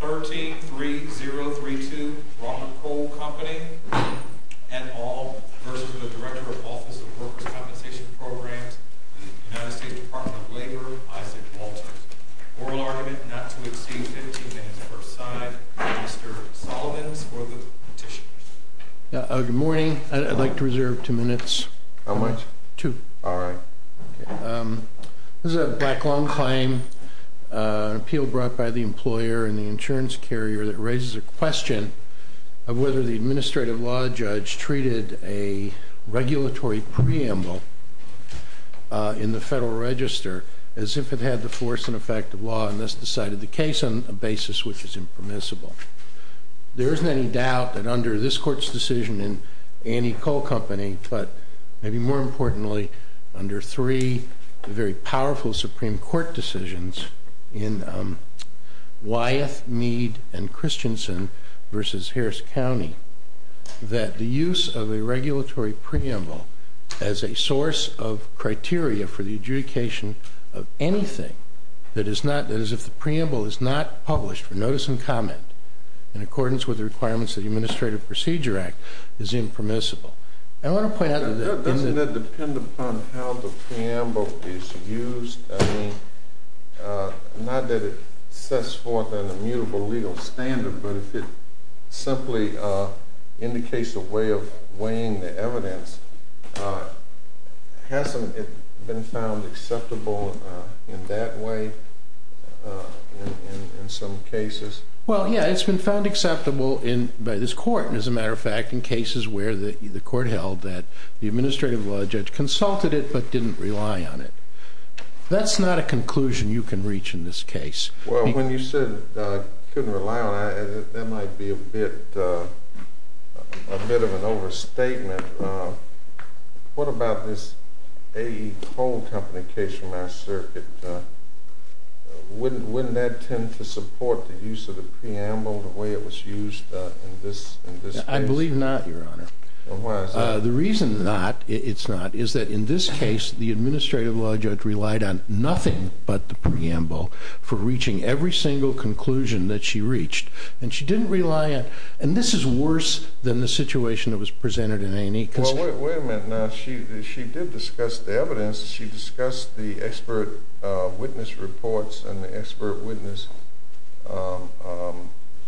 13.30.32 Ronald Coal Co v. Director of Office of Workers' Compensation Programs, U.S. Department of Labor, Isaac Walters. Oral argument not to exceed 15 minutes per side. Mr. Solomons for the petition. Good morning. I'd like to reserve two minutes. How much? Two. All right. This is a black loan claim, an appeal brought by the employer and the insurance carrier that raises a question of whether the administrative law judge treated a regulatory preamble in the Federal Register as if it had the force and effect of law and thus decided the case on a basis which is impermissible. There isn't any doubt that under this court's decision in Annie Coal Company, but maybe more importantly, under three very powerful Supreme Court decisions in Wyeth, Mead and Christensen v. Harris County, that the use of a regulatory preamble as a source of criteria for the adjudication of anything that is not, that is if the preamble is not published for notice and comment in accordance with the requirements of the Administrative Procedure Act, is impermissible. I want to point out... Doesn't that depend upon how the preamble is used? I mean, not that it sets forth an immutable legal standard, but if it simply indicates a way of weighing the evidence, hasn't it been found acceptable in that way in some cases? Well, yeah, it's been found acceptable by this court. As a matter of fact, in cases where the court held that the administrative law judge consulted it, but didn't rely on it. That's not a conclusion you can reach in this case. Well, when you said I couldn't rely on it, that might be a bit of an overstatement. What about this GE Coal Company case from our circuit? Wouldn't that tend to support the use of the preamble the way it was used in this case? I believe not, Your Honor. The reason not, it's not, is that in this case, the administrative law judge relied on nothing but the preamble for reaching every single conclusion that she reached. And she didn't rely on... And this is worse than the situation that was presented in A&E. Well, wait a minute now. She did discuss the evidence. She discussed the expert witness reports and the expert witness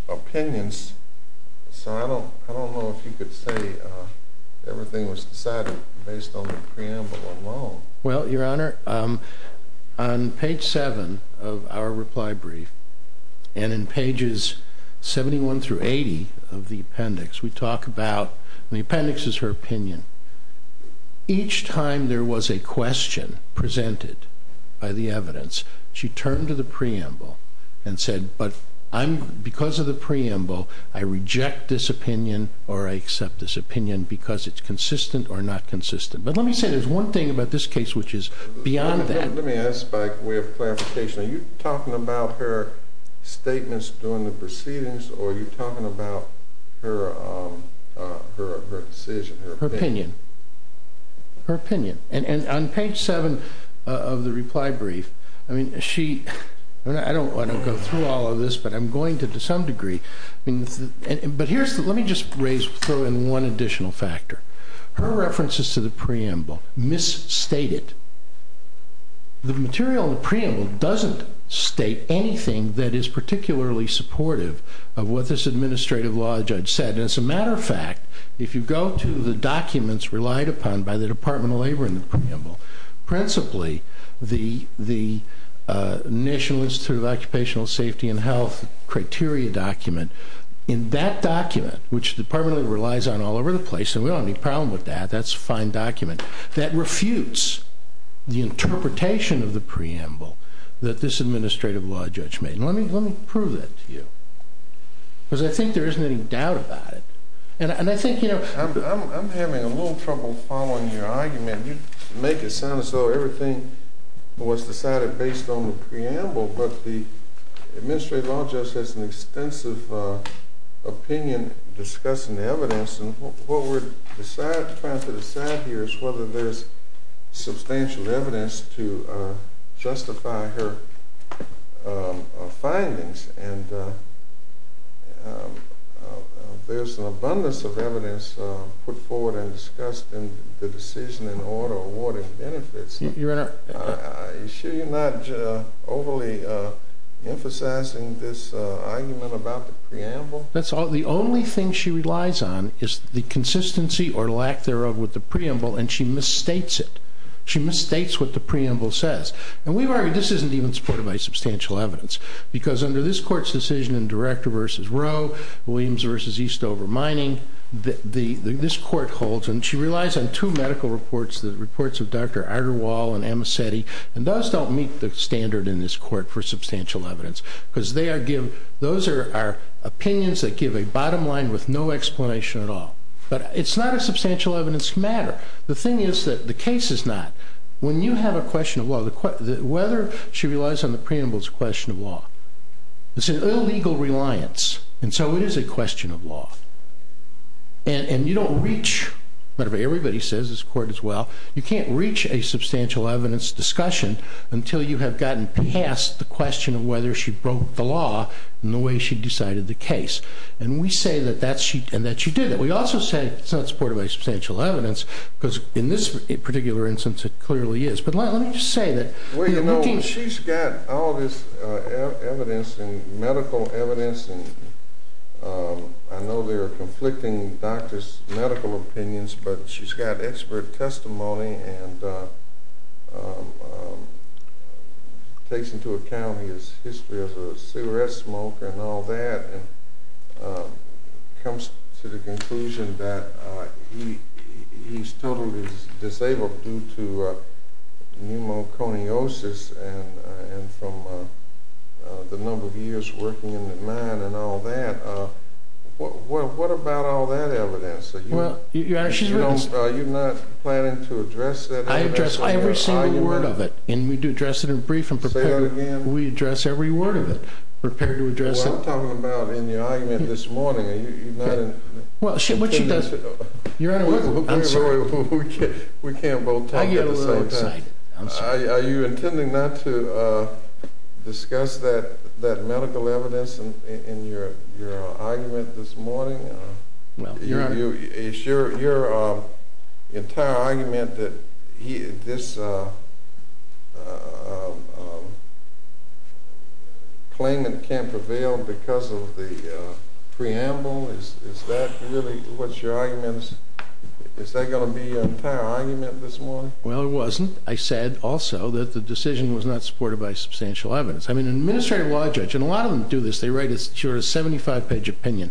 opinions. So I don't know if you could say everything was decided based on the preamble alone. Well, Your Honor, on page 7 of our reply brief and in pages 71 through 80 of the appendix, we talk about... The appendix is her opinion. Each time there was a question presented by the evidence, she turned to the preamble and said, but because of the preamble, I reject this opinion or I accept this opinion because it's consistent or not consistent. But let me say there's one thing about this case which is beyond that... Let me ask by way of clarification. Are you talking about her statements during the proceedings or are you talking about her decision? Her opinion. Her opinion. And on page 7 of the reply brief, I mean, she... I don't want to go through all of this, but I'm going to to some degree. But let me just throw in one additional factor. Her references to the preamble misstated. The material in the preamble doesn't state anything that is particularly supportive of what this administrative law judge said. As a matter of fact, if you go to the documents relied upon by the Department of Labor in the preamble, principally the National Institute of Occupational Safety and Health criteria document, in that document, which the Department of Labor relies on all over the place, and we don't have any problem with that, that's a fine document, that refutes the interpretation of the preamble that this administrative law judge made. And let me prove that to you. Because I think there isn't any doubt about it. And I think, you know... I'm having a little trouble following your argument. You know, the administrative law judge has an extensive opinion discussing the evidence. And what we're trying to decide here is whether there's substantial evidence to justify her findings. And there's an abundance of evidence put forward and discussed in the decision in order of awarding benefits. Your Honor... Are you sure you're not overly emphasizing this argument about the preamble? The only thing she relies on is the consistency or lack thereof with the preamble, and she misstates it. She misstates what the preamble says. And this isn't even supported by substantial evidence. Because under this Court's decision in Director v. Roe, Williams v. Eastover Mining, this Court holds, and she relies on two medical reports, the reports of Dr. Arderwall and Amicetti. And those don't meet the standard in this Court for substantial evidence. Because those are opinions that give a bottom line with no explanation at all. But it's not a substantial evidence matter. The thing is that the case is not. When you have a question of law, whether she relies on the preamble is a question of law. It's an illegal reliance. And so it is a question of law. And you don't reach, whatever everybody says, this Court as well, you can't reach a substantial evidence discussion until you have gotten past the question of whether she broke the law in the way she decided the case. And we say that she did it. We also say it's not supported by substantial evidence, because in this particular instance it clearly is. But let me just say that... Well, you know, she's got all this evidence and medical evidence, and I know there are conflicting doctors' medical opinions, but she's got expert testimony and takes into account his history as a cigarette smoker and all that, and comes to the conclusion that he's totally disabled due to pneumoconiosis and from the number of years working in the hospital and all that. What about all that evidence? Are you not planning to address that evidence? I address every single word of it, and we do address it in brief and prepare it again. We address every word of it, prepare to address it. Well, I'm talking about in your argument this morning. Are you not... Well, what she does... Your Honor, we can't both talk at the same time. Are you intending not to discuss that medical evidence in your argument this morning? Your entire argument that this claimant can't prevail because of the preamble, is that really what your argument is? Is that going to be your entire argument this morning? Well, it wasn't. I said also that the decision was not supported by substantial evidence. I mean, an administrative law judge, and a lot of them do this, they write a 75-page opinion,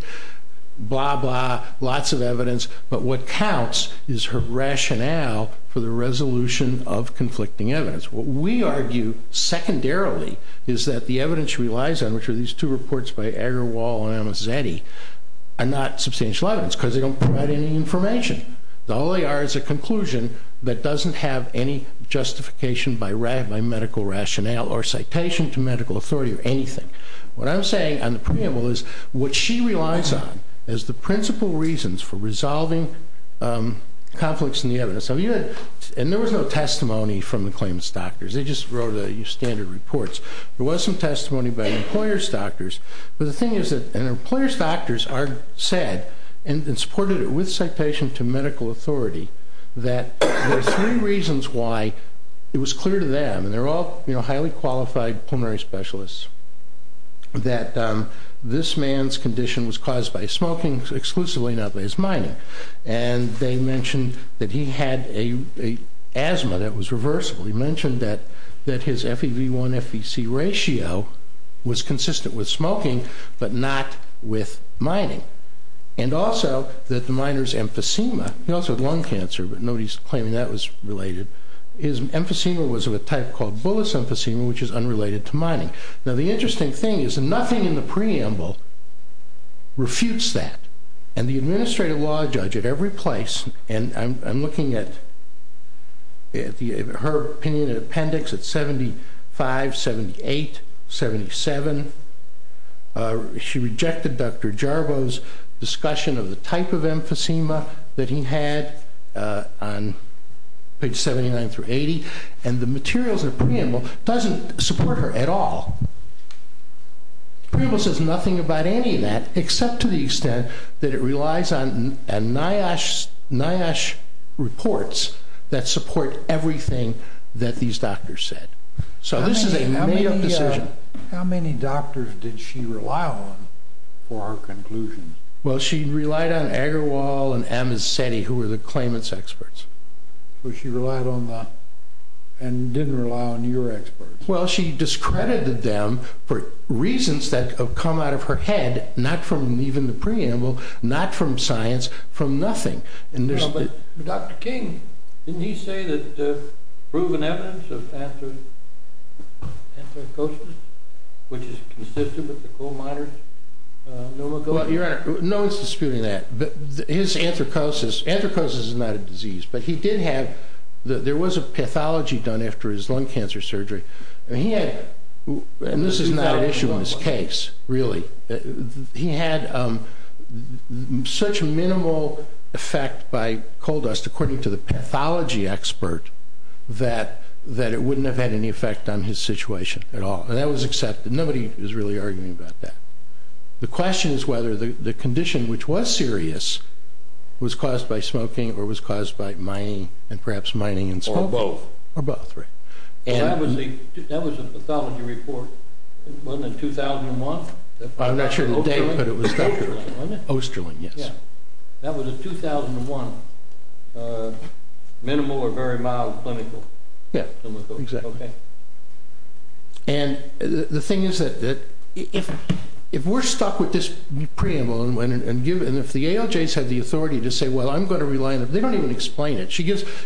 blah, blah, lots of evidence, but what counts is her rationale for the resolution of conflicting evidence. What we argue secondarily is that the evidence she relies on, which are these two reports by Agarwal and Amazetti, are not substantial evidence because they don't provide any information. All they are is a conclusion that doesn't have any justification by medical rationale or citation to medical authority or anything. What I'm saying on the preamble is, what she relies on is the principal reasons for resolving conflicts in the evidence. And there was no testimony from the claimant's doctors. They just wrote your standard reports. There was some testimony by an employer's doctors, but the thing is that an employer's doctors are said, and supported it with citation to medical authority, that there are three reasons why it was clear to them, and they're all highly qualified pulmonary specialists, that this man's condition was caused by smoking exclusively, not by his mining. And they mentioned that he had an asthma that was reversible. He mentioned that his FEV1-FEC ratio was consistent with smoking, but not with mining. And also, that the miner's emphysema, he also had lung cancer, but nobody's claiming that that was related. His emphysema was of a type called Bullis emphysema, which is unrelated to mining. Now the interesting thing is, nothing in the preamble refutes that. And the administrative law judge at every place, and I'm looking at her opinion in appendix at 75, 78, 77, she rejected Dr. Jarbo's discussion of the type of emphysema that he had on page 79-80, and the materials in the preamble doesn't support her at all. The preamble says nothing about any of that, except to the extent that it relies on NIOSH reports that support everything that these doctors said. So this is a made-up decision. How many doctors did she rely on for her conclusion? Well, she relied on Agarwal and Amasetti, who were the claimants' experts. So she relied on the, and didn't rely on your experts? Well, she discredited them for reasons that have come out of her head, not from even the preamble, not from science, from nothing. But Dr. King, didn't he say that there's proven evidence of anthracosis, which is consistent with the coal miners' pneumococcus? No one's disputing that. His anthracosis, anthracosis is not a disease, but he did have, there was a pathology done after his lung cancer surgery, and he had, and this is not an issue in his case, really, he had such minimal effect by coal dust, according to the pathology expert, that it wouldn't have had any effect on his situation at all. And that was accepted. Nobody was really arguing about that. The question is whether the condition, which was serious, was caused by smoking, or was caused by mining, and perhaps mining and smoking. Or both. Or both, right. That was a pathology report, wasn't it, in 2001? I'm not sure of the date, but it was Dr. Osterling, yes. That was in 2001. Minimal or very mild clinical pneumococcus. And the thing is that if we're stuck with this preamble, and if the ALJs have the authority to say, well, I'm going to rely on it, they don't even explain it.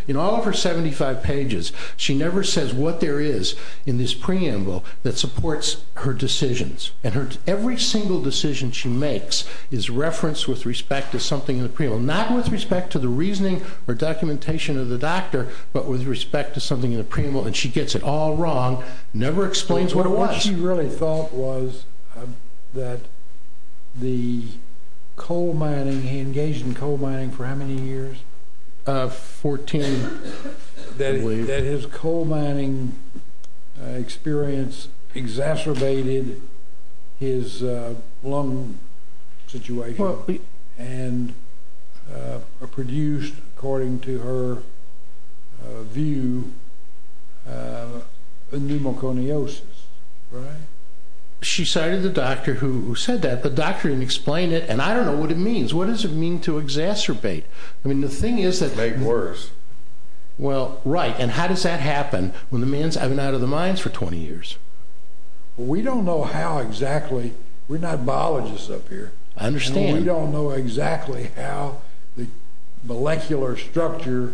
In all of her 75 pages, she never says what there is in this preamble that supports her decisions. And every single decision she makes is referenced with respect to something in the preamble. Not with respect to the reasoning or documentation of the doctor, but with respect to something in the preamble. And she gets it all wrong, never explains what it was. What she really thought was that the coal mining, he engaged in coal mining for how many years? 14, I believe. That his coal mining experience exacerbated his lung situation and produced, according to her view, pneumoconiosis, right? She cited the doctor who said that. The doctor didn't explain it, and I don't know what it means. What does it mean to exacerbate? To make it worse. Well, right. And how does that happen when the man's been out of the mines for 20 years? We don't know how exactly. We're not biologists up here. I understand. We don't know exactly how the molecular structure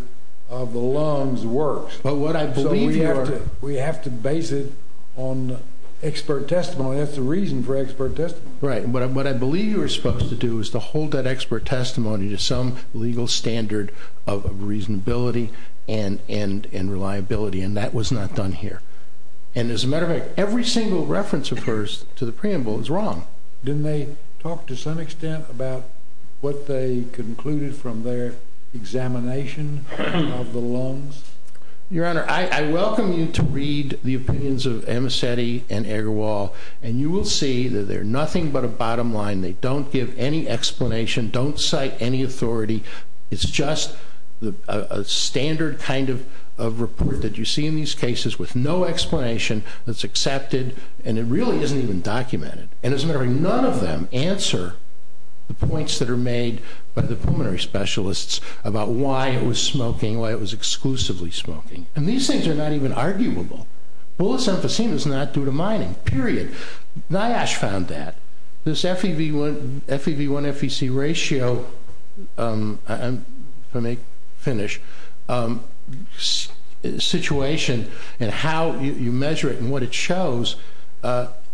of the lungs works. But what I believe you are. So we have to base it on expert testimony. That's the reason for expert testimony. Right. But what I believe you are supposed to do is to hold that expert testimony to some legal standard of reasonability and reliability. And that was not done here. And as a matter of fact, every single reference of hers to the preamble is wrong. Didn't they talk to some extent about what they concluded from their examination of the lungs? Your Honor, I welcome you to read the opinions of Amicetti and Agarwal. And you will see that they're nothing but a bottom line. They don't give any explanation. Don't cite any authority. It's just a standard kind of report that you see in these cases with no explanation that's accepted. And it really isn't even documented. And as a matter of fact, none of them answer the points that are made by the pulmonary specialists about why it was smoking, why it was exclusively smoking. And these things are not even arguable. Bullets emphysema is not due to mining, period. NIOSH found that. This FEV1-FEC ratio, if I may finish, situation and how you measure it and what it shows,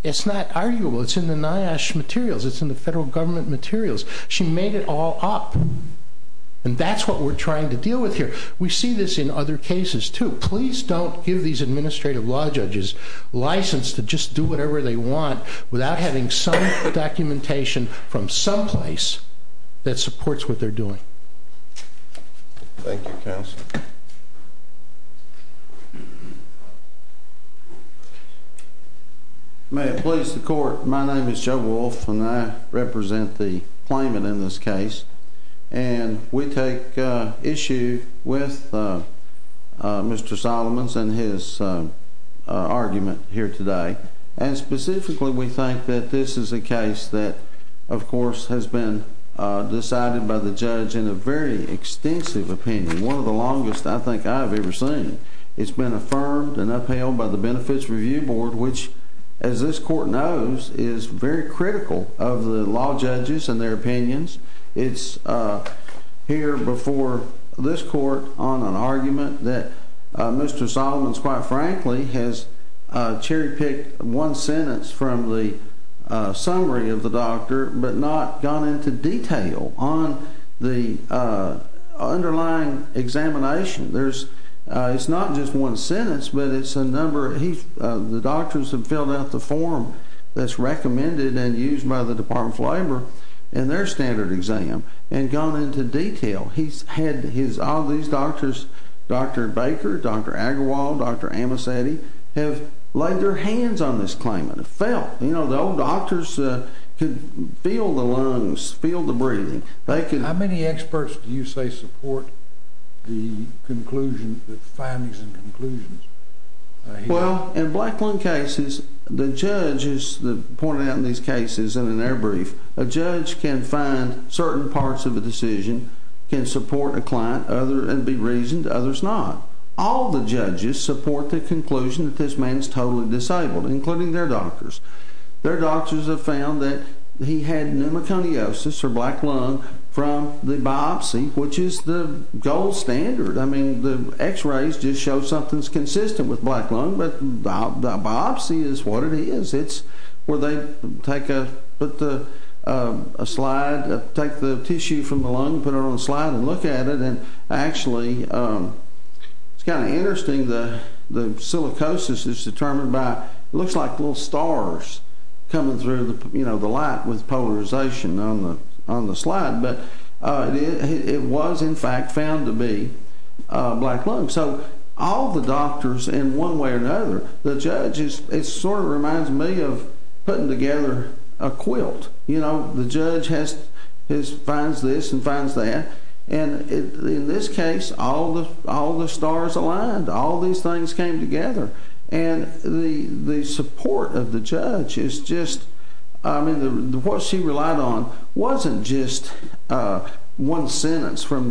it's not arguable. It's in the NIOSH materials. It's in the federal government materials. She made it all up. And that's what we're trying to deal with here. We see this in other cases, too. Please don't give these administrative law judges license to just do whatever they want without having some documentation from someplace that supports what they're doing. Thank you, counsel. May it please the court, my name is Joe Wolf, and I represent the claimant in this case. And we take issue with Mr. Solomon's and his argument here today. And specifically, we think that this is a case that, of course, has been decided by the judge in a very extensive opinion. One of the longest I think I have ever seen. It's been affirmed and upheld by the Benefits Review Board, which, as this court knows, is very critical of the law judges and their opinions. It's here before this court on an argument that Mr. Solomon's, quite frankly, has cherry-picked one sentence from the summary of the doctor but not gone into detail on the underlying examination. It's not just one sentence, but it's a number. The doctors have filled out the form that's recommended and used by the Department of Labor in their standard exam and gone into detail. All these doctors, Dr. Baker, Dr. Agrawal, Dr. Amosetti, have laid their hands on this claimant and felt. The old doctors could feel the lungs, feel the breathing. How many experts do you say support the findings and conclusions? Well, in black lung cases, the judges pointed out in these cases and in their brief, a judge can find certain parts of a decision, can support a client and be reasoned, others not. All the judges support the conclusion that this man is totally disabled, including their doctors. Their doctors have found that he had pneumoconiosis, or black lung, from the biopsy, which is the gold standard. I mean, the x-rays just show something's consistent with black lung, but the biopsy is what it is. It's where they take a slide, take the tissue from the lung, put it on a slide and look at it. And actually, it's kind of interesting, the silicosis is determined by, it looks like little stars coming through the light with polarization on the slide. But it was, in fact, found to be black lung. So all the doctors, in one way or another, the judges, it sort of reminds me of putting together a quilt. You know, the judge finds this and finds that. And in this case, all the stars aligned. All these things came together. And the support of the judge is just, I mean, what she relied on wasn't just one sentence from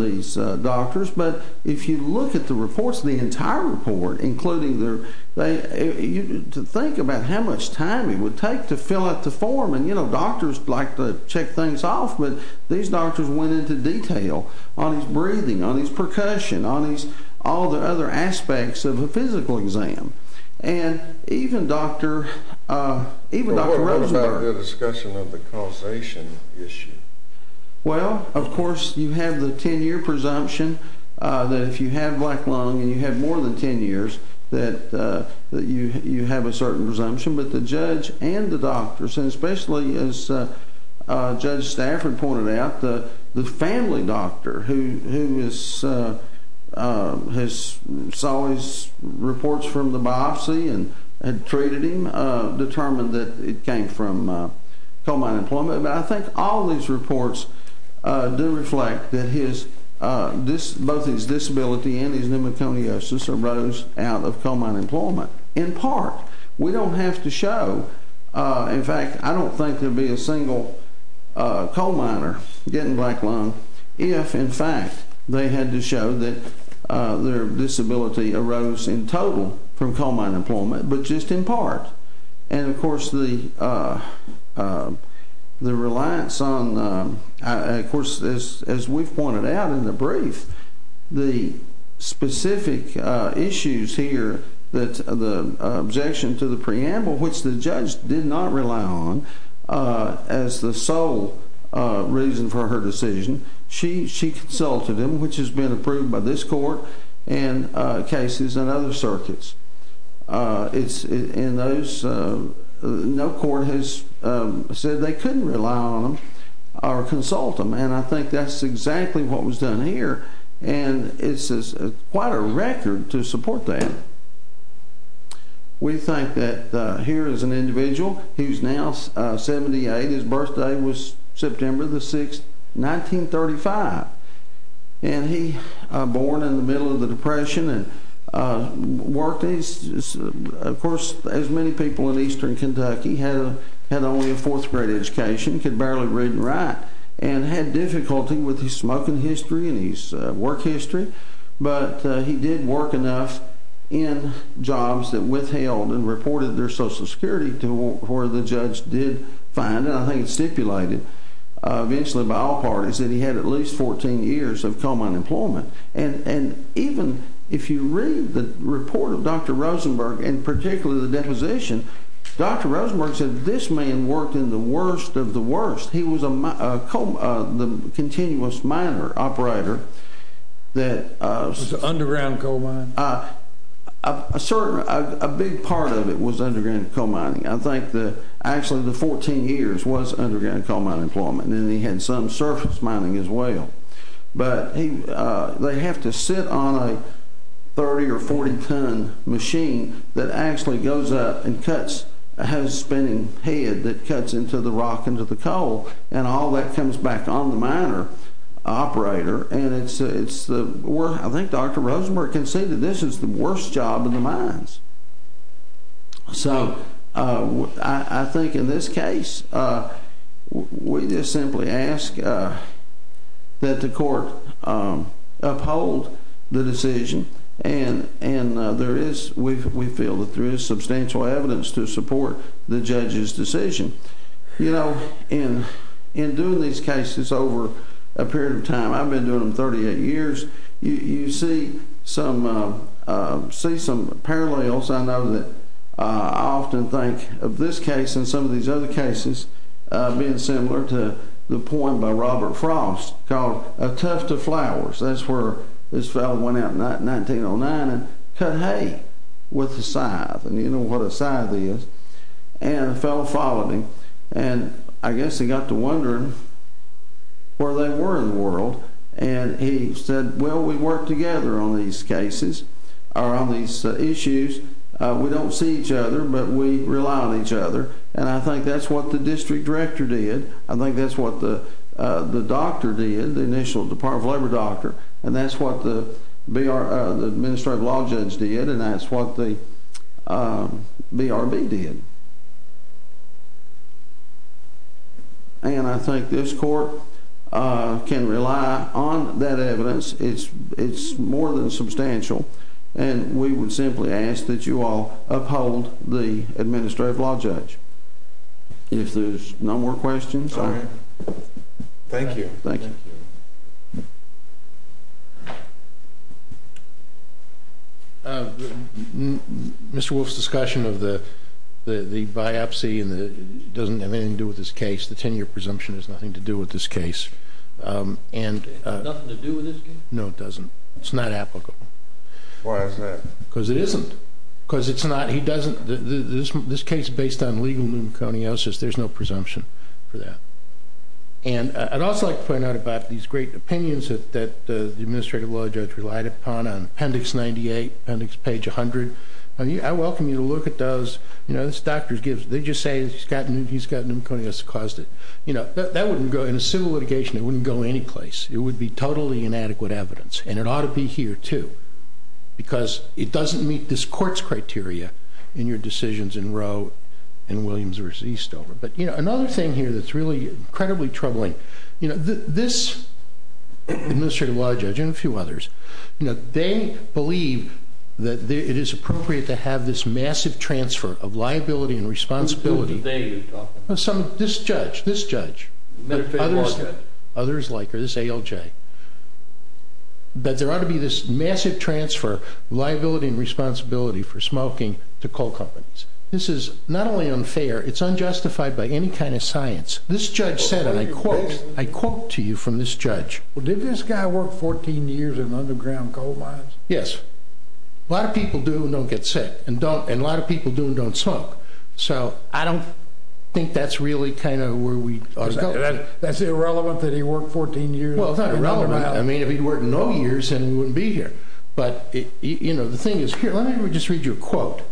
these doctors. But if you look at the reports, the entire report, including their, to think about how much time it would take to fill out the form. And, you know, doctors like to check things off. But these doctors went into detail on his breathing, on his percussion, on all the other aspects of a physical exam. And even Dr. Rosenberg. What about the discussion of the causation issue? Well, of course, you have the 10-year presumption that if you have black lung and you have more than 10 years, that you have a certain presumption. But the judge and the doctors, and especially as Judge Stafford pointed out, the family doctor who saw his reports from the biopsy and treated him, determined that it came from coal mine employment. But I think all these reports do reflect that both his disability and his pneumoconiosis arose out of coal mine employment. In part. We don't have to show. In fact, I don't think there would be a single coal miner getting black lung if, in fact, they had to show that their disability arose in total from coal mine employment. But just in part. And, of course, the reliance on, of course, as we've pointed out in the brief, the specific issues here, the objection to the preamble, which the judge did not rely on as the sole reason for her decision. She consulted him, which has been approved by this court and cases in other circuits. It's in those. No court has said they couldn't rely on them or consult them. And I think that's exactly what was done here. And it's quite a record to support that. We think that here is an individual who's now 78. His birthday was September the 6th, 1935. And he was born in the middle of the Depression and worked. Of course, as many people in eastern Kentucky had only a fourth grade education, could barely read and write, and had difficulty with his smoking history and his work history. But he did work enough in jobs that withheld and reported their Social Security to where the judge did find. And then I think it's stipulated eventually by all parties that he had at least 14 years of coal mine employment. And even if you read the report of Dr. Rosenberg and particularly the deposition, Dr. Rosenberg said this man worked in the worst of the worst. He was the continuous miner operator that— It was an underground coal mine. A big part of it was underground coal mining. I think that actually the 14 years was underground coal mine employment. And then he had some surface mining as well. But they have to sit on a 30- or 40-ton machine that actually goes up and has a spinning head that cuts into the rock and into the coal. And all that comes back on the miner operator. And I think Dr. Rosenberg conceded this is the worst job in the mines. So I think in this case, we just simply ask that the court uphold the decision. And we feel that there is substantial evidence to support the judge's decision. You know, in doing these cases over a period of time—I've been doing them 38 years—you see some parallels. I know that I often think of this case and some of these other cases being similar to the point by Robert Frost called A Tuft of Flowers. That's where this fellow went out in 1909 and cut hay with a scythe. And you know what a scythe is. And a fellow followed him. And I guess he got to wondering where they were in the world. And he said, well, we work together on these cases or on these issues. We don't see each other, but we rely on each other. And I think that's what the district director did. I think that's what the doctor did, the initial Department of Labor doctor. And that's what the administrative law judge did. And that's what the BRB did. And I think this court can rely on that evidence. It's more than substantial. And we would simply ask that you all uphold the administrative law judge. If there's no more questions. All right. Thank you. Thank you. Mr. Wolf's discussion of the biopsy doesn't have anything to do with this case. The 10-year presumption has nothing to do with this case. Nothing to do with this case? No, it doesn't. It's not applicable. Why is that? Because it isn't. Because it's not. He doesn't. This case is based on legal pneumoconiosis. There's no presumption for that. And I'd also like to point out about these great opinions that the administrative law judge relied upon on Appendix 98, Appendix page 100. I welcome you to look at those. This doctor, they just say he's got pneumoconiosis that caused it. That wouldn't go in a civil litigation. It wouldn't go anyplace. It would be totally inadequate evidence. And it ought to be here, too. Because it doesn't meet this court's criteria in your decisions in Roe and Williams v. Eastover. But, you know, another thing here that's really incredibly troubling, you know, this administrative law judge and a few others, you know, they believe that it is appropriate to have this massive transfer of liability and responsibility. Who are they? This judge. This judge. Others like her. This ALJ. That there ought to be this massive transfer of liability and responsibility for smoking to coal companies. This is not only unfair. It's unjustified by any kind of science. This judge said, and I quote, I quote to you from this judge. Well, did this guy work 14 years in underground coal mines? Yes. A lot of people do and don't get sick. And a lot of people do and don't smoke. So I don't think that's really kind of where we ought to go. That's irrelevant that he worked 14 years? Well, it's not irrelevant. I mean, if he'd worked no years, then he wouldn't be here. But, you know, the thing is here. Let me just read you a quote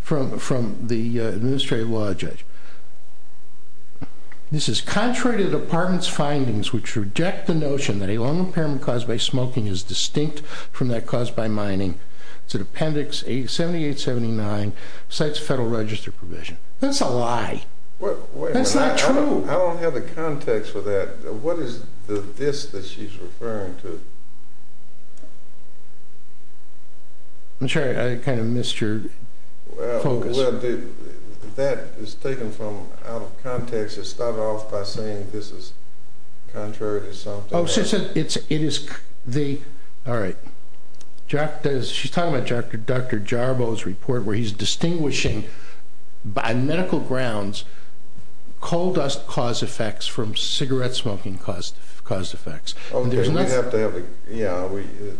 from the administrative law judge. This is contrary to the department's findings, which reject the notion that a lung impairment caused by smoking is distinct from that caused by mining. It's in Appendix 7879, Cites Federal Register Provision. That's a lie. That's not true. I don't have the context for that. What is this that she's referring to? I'm sorry. I kind of missed your focus. Well, that is taken from out of context. It started off by saying this is contrary to something. Oh, so it's the – all right. She's talking about Dr. Jarbo's report where he's distinguishing, by medical grounds, coal dust cause effects from cigarette smoking cause effects. Okay.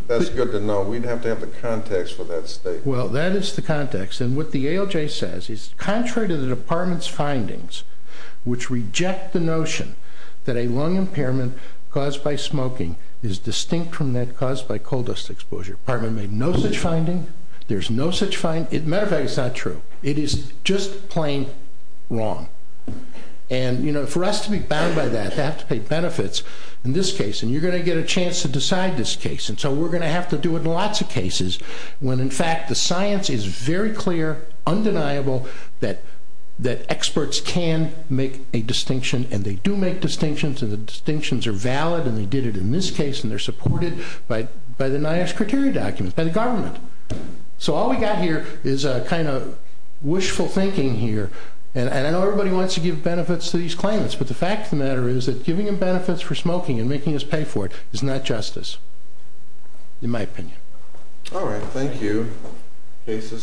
That's good to know. We'd have to have the context for that statement. Well, that is the context. And what the ALJ says is contrary to the department's findings, which reject the notion that a lung impairment caused by smoking is distinct from that caused by coal dust exposure. The department made no such finding. There's no such finding. As a matter of fact, it's not true. It is just plain wrong. And, you know, for us to be bound by that, they have to pay benefits in this case, and you're going to get a chance to decide this case. And so we're going to have to do it in lots of cases when, in fact, the science is very clear, undeniable, that experts can make a distinction, and they do make distinctions, and the distinctions are valid, and they did it in this case, and they're supported by the NIOSH criteria documents, by the government. So all we've got here is a kind of wishful thinking here, and I know everybody wants to give benefits to these claimants, but the fact of the matter is that giving them benefits for smoking and making us pay for it is not justice, in my opinion. All right. Thank you. Case is submitted.